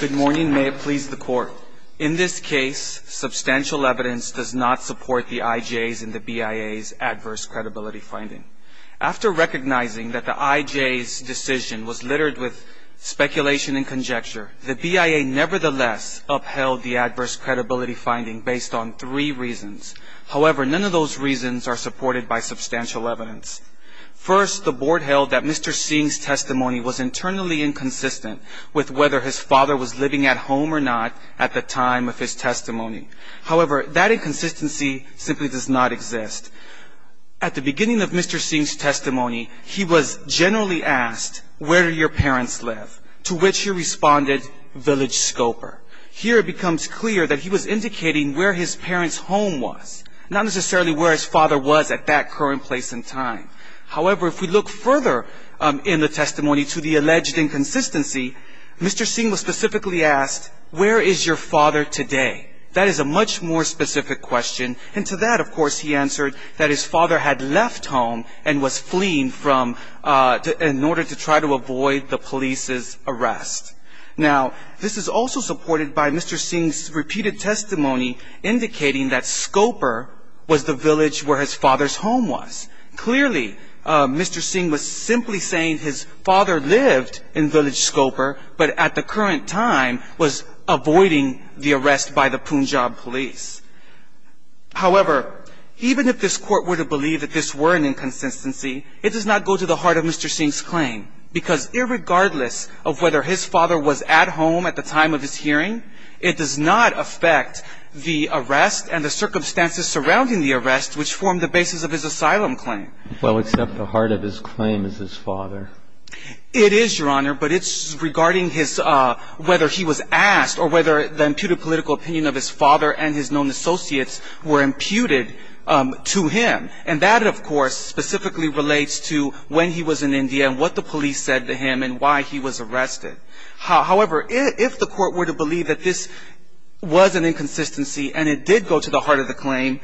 Good morning. May it please the court. In this case, substantial evidence does not support the IJ's and the BIA's adverse credibility finding. After recognizing that the IJ's decision was littered with speculation and conjecture, the BIA nevertheless upheld the adverse credibility finding based on three reasons. However, none of those reasons are supported by substantial evidence. First, the board held that Mr. Singh's testimony was internally inconsistent with whether his father was living at home or not at the time of his testimony. However, that inconsistency simply does not exist. At the beginning of Mr. Singh's testimony, he was generally asked, where do your parents live? To which he responded, village scoper. Here it becomes clear that he was indicating where his parents' home was, not necessarily where his father was at that current place in time. However, if we look further in the testimony to the alleged inconsistency, Mr. Singh was specifically asked, where is your father today? That is a much more specific question. And to that, of course, he answered that his father had left home and was fleeing in order to try to avoid the police's arrest. Now, this is also supported by Mr. Singh's repeated testimony indicating that scoper was the village where his father's home was. Clearly, Mr. Singh was simply saying his father lived in village scoper, but at the current time was avoiding the arrest by the Punjab police. However, even if this court were to believe that this were an inconsistency, it does not go to the heart of Mr. Singh's claim. Because irregardless of whether his father was at home at the time of his hearing, it does not affect the arrest and the circumstances surrounding the arrest, which form the basis of his asylum claim. Well, except the heart of his claim is his father. It is, Your Honor, but it's regarding his whether he was asked or whether the imputed political opinion of his father and his known associates were imputed to him. And that, of course, specifically relates to when he was in India and what the police said to him and why he was arrested. However, if the court were to believe that this was an inconsistency and it did go to the heart of the claim,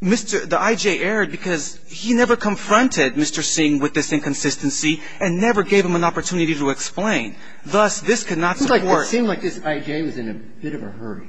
Mr. the I.J. erred because he never confronted Mr. Singh with this inconsistency and never gave him an opportunity to explain. Thus, this could not work. It seemed like this I.J. was in a bit of a hurry.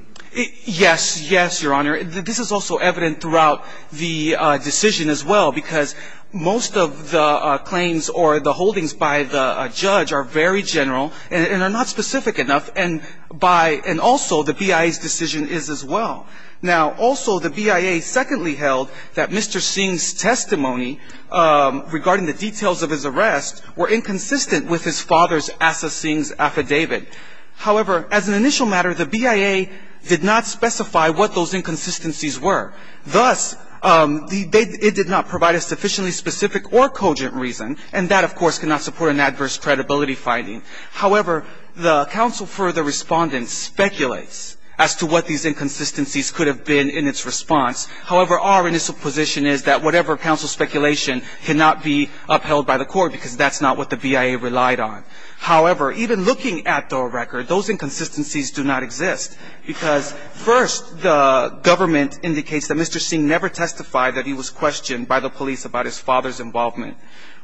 Yes. Yes, Your Honor. This is also evident throughout the decision as well because most of the claims or the holdings by the judge are very general and are not specific enough. And by and also the BIA's decision is as well. Now, also the BIA secondly held that Mr. Singh's testimony regarding the details of his arrest were inconsistent with his father's Asa Singh's affidavit. However, as an initial matter, the BIA did not specify what those inconsistencies were. Thus, it did not provide a sufficiently specific or cogent reason. And that, of course, cannot support an adverse credibility finding. However, the counsel for the respondent speculates as to what these inconsistencies could have been in its response. However, our initial position is that whatever counsel speculation cannot be upheld by the court because that's not what the BIA relied on. However, even looking at the record, those inconsistencies do not exist. Because first, the government indicates that Mr. Singh never testified that he was questioned by the police about his father's involvement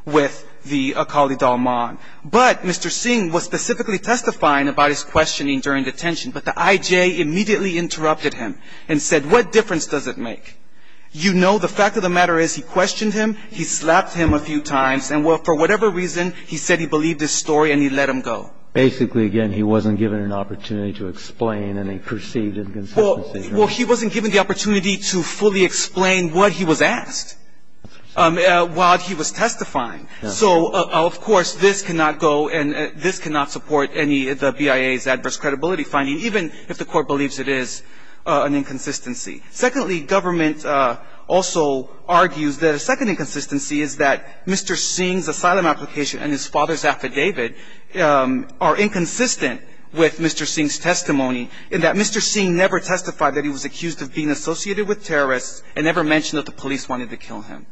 with the Akali Dalman. But Mr. Singh was specifically testifying about his questioning during detention. But the I.J. immediately interrupted him and said, what difference does it make? You know the fact of the matter is he questioned him, he slapped him a few times, and for whatever reason, he said he believed his story and he let him go. Basically, again, he wasn't given an opportunity to explain any perceived inconsistencies. Well, he wasn't given the opportunity to fully explain what he was asked while he was testifying. So, of course, this cannot go and this cannot support any of the BIA's adverse credibility finding, even if the court believes it is an inconsistency. Secondly, government also argues that a second inconsistency is that Mr. Singh's asylum application and his father's affidavit are inconsistent with Mr. Singh's testimony in that Mr. Singh never testified that he was accused of being associated with terrorists and never mentioned that the police wanted to kill him.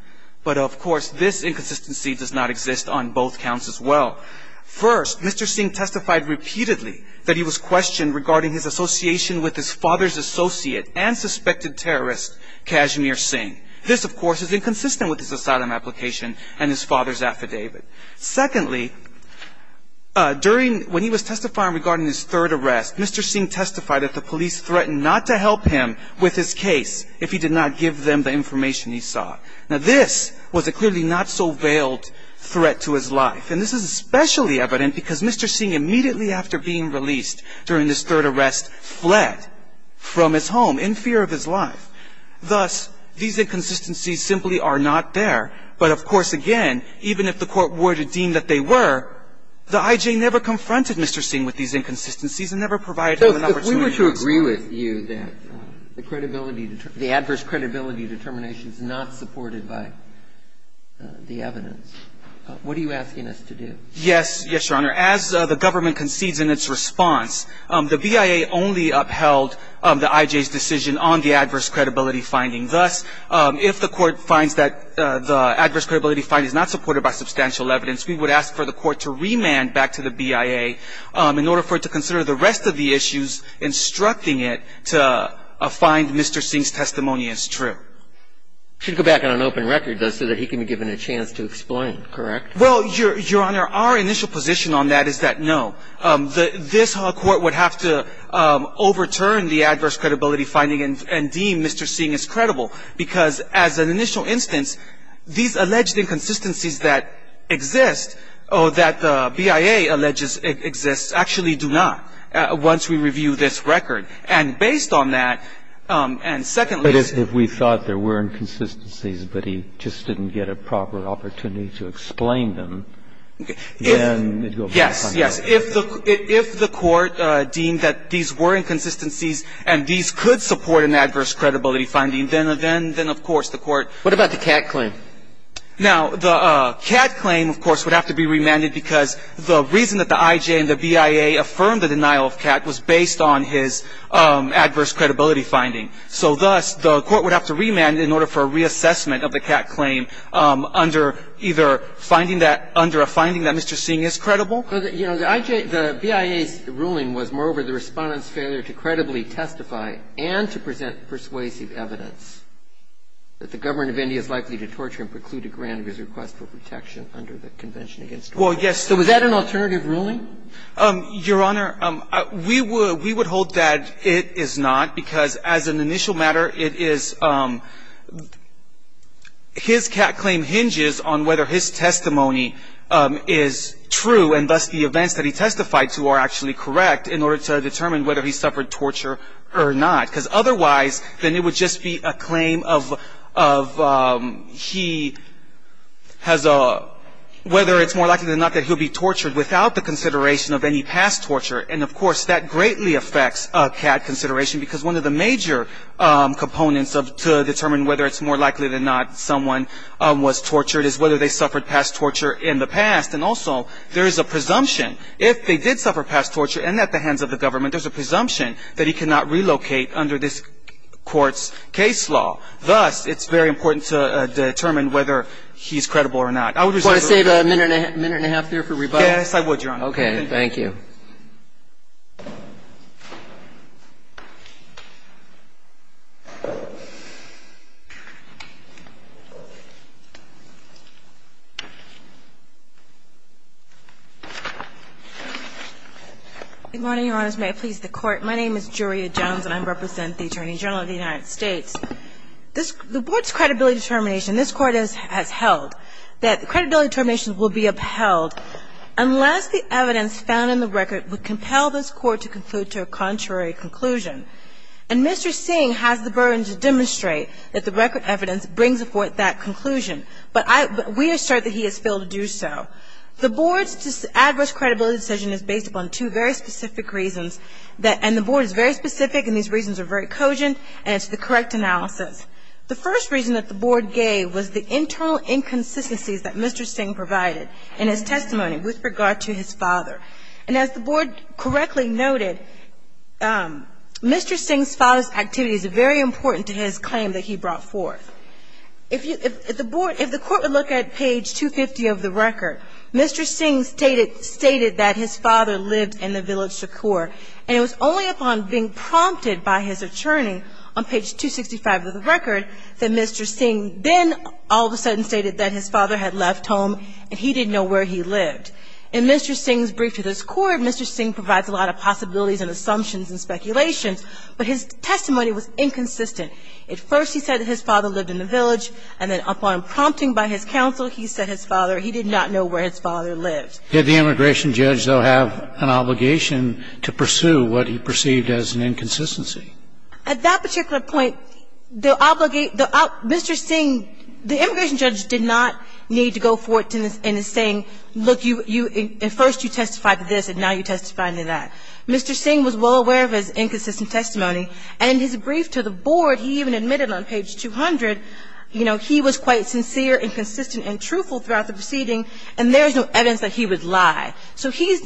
But, of course, this inconsistency does not exist on both counts as well. First, Mr. Singh testified repeatedly that he was questioned regarding his association with his father's associate and suspected terrorist, Kashmir Singh. This, of course, is inconsistent with his asylum application and his father's affidavit. Secondly, when he was testifying regarding his third arrest, Mr. Singh testified that the police threatened not to help him with his case if he did not give them the information he sought. Now, this was a clearly not so veiled threat to his life. And this is especially evident because Mr. Singh, immediately after being released during his third arrest, fled from his home in fear of his life. Thus, these inconsistencies simply are not there. But, of course, again, even if the court were to deem that they were, the I.J. never confronted Mr. Singh with these inconsistencies and never provided him an opportunity to testify. I agree with you that the credibility, the adverse credibility determination is not supported by the evidence. What are you asking us to do? Yes. Yes, Your Honor. As the government concedes in its response, the BIA only upheld the I.J.'s decision on the adverse credibility finding. Thus, if the Court finds that the adverse credibility finding is not supported by substantial evidence, we would ask for the Court to remand back to the BIA in order for it to consider the rest of the issues instructing it to find Mr. Singh's testimony as true. It should go back on an open record, though, so that he can be given a chance to explain, correct? Well, Your Honor, our initial position on that is that no. This Court would have to overturn the adverse credibility finding and deem Mr. Singh as credible because, as an initial instance, these alleged inconsistencies that exist, or that the BIA alleges exist, actually do not once we review this record. And based on that, and secondly ---- But if we thought there were inconsistencies, but he just didn't get a proper opportunity to explain them, then it would go back on record. Yes. Yes. If the Court deemed that these were inconsistencies and these could support an adverse credibility finding, then of course the Court ---- What about the Catt claim? Now, the Catt claim, of course, would have to be remanded because the reason that the IJ and the BIA affirmed the denial of Catt was based on his adverse credibility finding. So thus, the Court would have to remand in order for a reassessment of the Catt claim under either finding that ---- under a finding that Mr. Singh is credible. Well, you know, the IJ ---- the BIA's ruling was moreover the Respondent's failure to credibly testify and to present persuasive evidence that the government of India is likely to torture and preclude a grant of his request for protection under the Convention against Torture. Well, yes. So was that an alternative ruling? Your Honor, we would hold that it is not, because as an initial matter, it is ---- his Catt claim hinges on whether his testimony is true and thus the events that he testified to are actually correct in order to determine whether he suffered torture or not. Because otherwise, then it would just be a claim of he has a ---- whether it's more likely than not that he'll be tortured without the consideration of any past torture. And of course, that greatly affects Catt consideration because one of the major components of ---- to determine whether it's more likely than not someone was tortured is whether they suffered past torture in the past. And also, there is a presumption. If they did suffer past torture and at the hands of the government, there's a And that's why it's so important that we do not relocate under this Court's case law. Thus, it's very important to determine whether he's credible or not. I would reserve the right to ---- Do you want to save a minute and a half there for rebuttal? Yes, I would, Your Honor. Okay. Thank you. Good morning, Your Honors. May I please the Court? My name is Julia Jones, and I represent the Attorney General of the United States. The Board's credibility determination, this Court has held, that credibility determination, the record evidence found in the record would compel this Court to conclude to a contrary conclusion. And Mr. Singh has the burden to demonstrate that the record evidence brings forth that conclusion, but we are sure that he has failed to do so. The Board's adverse credibility decision is based upon two very specific reasons, and the Board is very specific, and these reasons are very cogent, and it's the correct analysis. The first reason that the Board gave was the internal inconsistencies that Mr. Singh provided in his testimony with regard to his father. And as the Board correctly noted, Mr. Singh's father's activities are very important to his claim that he brought forth. If you ---- if the Board ---- if the Court would look at page 250 of the record, Mr. Singh stated that his father lived in the village Shakur, and it was only upon being prompted by his attorney on page 265 of the record that Mr. Singh then all of a sudden stated that his father had left home and he didn't know where he lived. In Mr. Singh's brief to this Court, Mr. Singh provides a lot of possibilities and assumptions and speculations, but his testimony was inconsistent. At first he said that his father lived in the village, and then upon prompting by his counsel, he said his father ---- he did not know where his father lived. Did the immigration judge, though, have an obligation to pursue what he perceived as an inconsistency? At that particular point, the obligate ---- Mr. Singh, the immigration judge did not need to go forth in his saying, look, you ---- at first you testified to this, and now you testify to that. Mr. Singh was well aware of his inconsistent testimony. And in his brief to the Board, he even admitted on page 200, you know, he was quite sincere and consistent and truthful throughout the proceeding, and there is no evidence that he would lie. So he's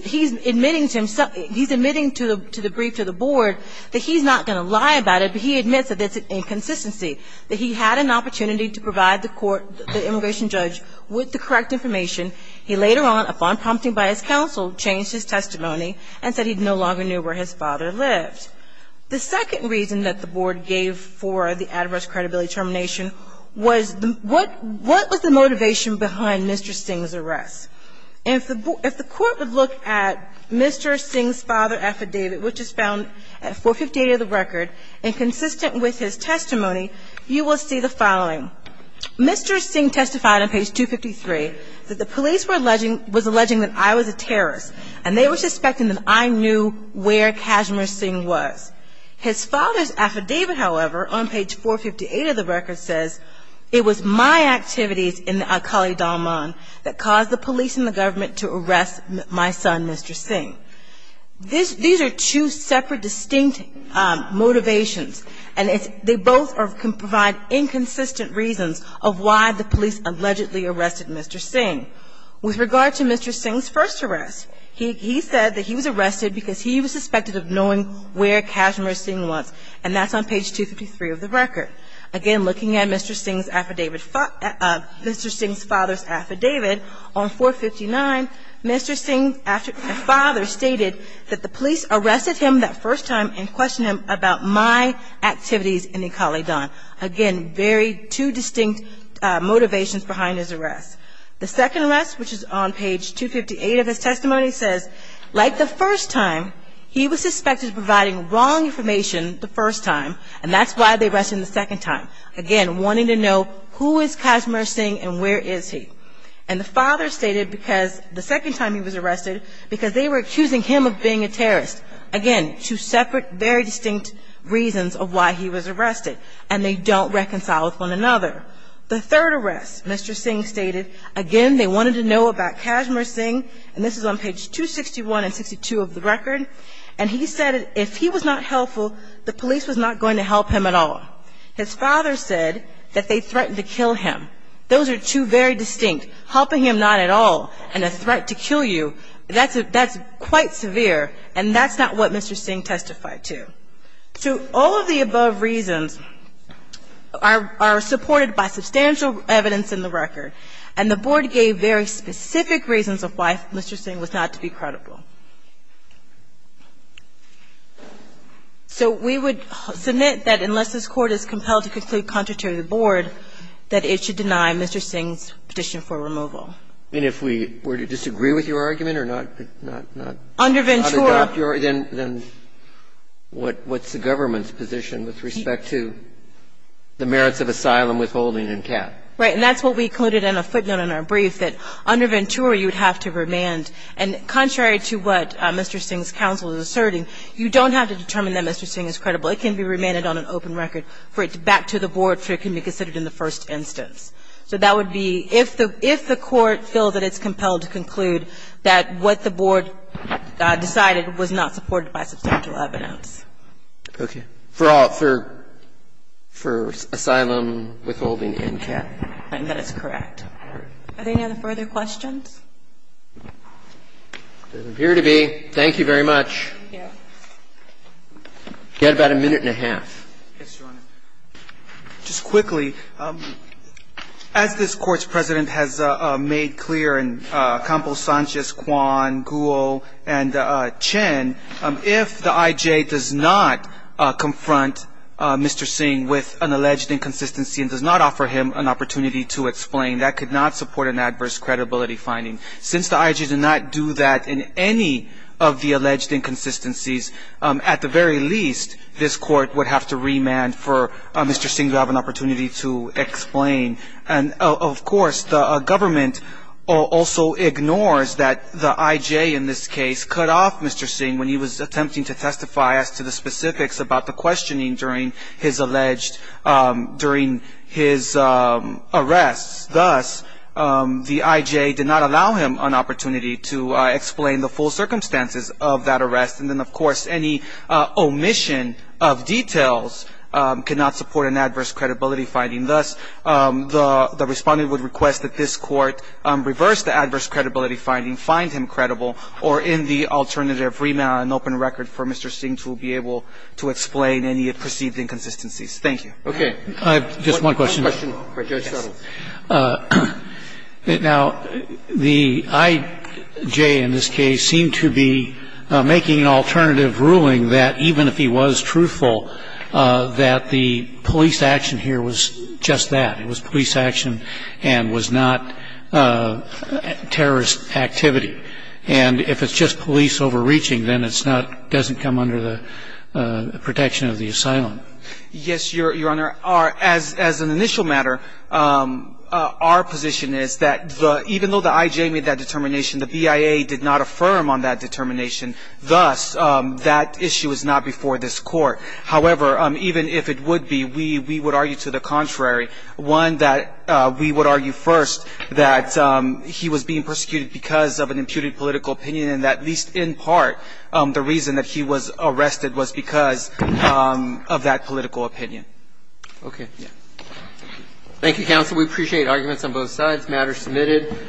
admitting to himself ---- he's admitting to the brief to the Board that he's not going to lie about it, but he admits that it's an inconsistency, that he had an opportunity to provide the Court, the immigration judge, with the correct information. He later on, upon prompting by his counsel, changed his testimony and said he no longer knew where his father lived. The second reason that the Board gave for the adverse credibility termination was the ---- what was the motivation behind Mr. Singh's arrest? And if the Court would look at Mr. Singh's father affidavit, which is found at 458 of the record, inconsistent with his testimony, you will see the following. Mr. Singh testified on page 253 that the police were alleging ---- was alleging that I was a terrorist, and they were suspecting that I knew where Kashmir Singh His father's affidavit, however, on page 458 of the record, says it was my activities in Al-Khali Dalman that caused the police and the government to arrest my son, Mr. Singh. These are two separate, distinct motivations, and they both provide inconsistent reasons of why the police allegedly arrested Mr. Singh. With regard to Mr. Singh's first arrest, he said that he was arrested because he was suspected of knowing where Kashmir Singh was, and that's on page 253 of the record. Again, looking at Mr. Singh's affidavit, Mr. Singh's father's affidavit, on 459, Mr. Singh's father stated that the police arrested him that first time and questioned him about my activities in Al-Khali Dalman. Again, very two distinct motivations behind his arrest. The second arrest, which is on page 258 of his testimony, says, like the first time, he was suspected of providing wrong information the first time, and that's why they arrested him the second time, again, wanting to know who is Kashmir Singh and where is he. And the father stated because the second time he was arrested, because they were accusing him of being a terrorist. Again, two separate, very distinct reasons of why he was arrested, and they don't reconcile with one another. The third arrest, Mr. Singh stated, again, they wanted to know about Kashmir Singh, and this is on page 261 and 262 of the record, and he said if he was not helpful, the police was not going to help him at all. His father said that they threatened to kill him. Those are two very distinct, helping him not at all and a threat to kill you, that's quite severe, and that's not what Mr. Singh testified to. So all of the above reasons are supported by substantial evidence in the record, and the board gave very specific reasons of why Mr. Singh was not to be credible. So we would submit that unless this Court is compelled to conclude contrary to the board, that it should deny Mr. Singh's petition for removal. And if we were to disagree with your argument or not, not, not, not adopt your argument, then what's the government's position with respect to the merits of asylum withholding and cap? Right. And that's what we concluded in a footnote in our brief, that under Ventura you would have to remand. And contrary to what Mr. Singh's counsel is asserting, you don't have to determine that Mr. Singh is credible. It can be remanded on an open record for it to back to the board so it can be considered in the first instance. So that would be if the, if the Court feels that it's compelled to conclude that what the board decided was not supported by substantial evidence. Okay. For all, for, for asylum withholding and cap. And that is correct. Are there any other further questions? There appear to be. Thank you very much. Thank you. You had about a minute and a half. Yes, Your Honor. Just quickly, as this Court's President has made clear in Campos, Sanchez, Kwan, Gould, and Chen, if the I.J. does not confront Mr. Singh with an alleged inconsistency and does not offer him an opportunity to explain, that could not support an adverse credibility finding. Since the I.J. did not do that in any of the alleged inconsistencies, at the very least, this Court would have to remand for Mr. Singh to have an opportunity to explain. And, of course, the government also ignores that the I.J. in this case cut off Mr. Singh when he was attempting to testify as to the specifics about the questioning during his alleged, during his arrests. Thus, the I.J. did not allow him an opportunity to explain the full circumstances of that arrest. And then, of course, any omission of details cannot support an adverse credibility finding. Thus, the Respondent would request that this Court reverse the adverse credibility finding, find him credible, or in the alternative remand an open record for Mr. Singh to be able to explain any perceived inconsistencies. Thank you. Okay. I have just one question. Yes. Now, the I.J. in this case seemed to be making an alternative ruling that even if he was truthful, that the police action here was just that. It was police action and was not terrorist activity. And if it's just police overreaching, then it's not, doesn't come under the protection of the asylum. Yes, Your Honor. As an initial matter, our position is that even though the I.J. made that determination, the BIA did not affirm on that determination. Thus, that issue is not before this Court. However, even if it would be, we would argue to the contrary. One, that we would argue first that he was being persecuted because of an imputed political opinion and that, at least in part, the reason that he was arrested was because of that political opinion. Okay. Thank you, counsel. We appreciate arguments on both sides. Matter submitted.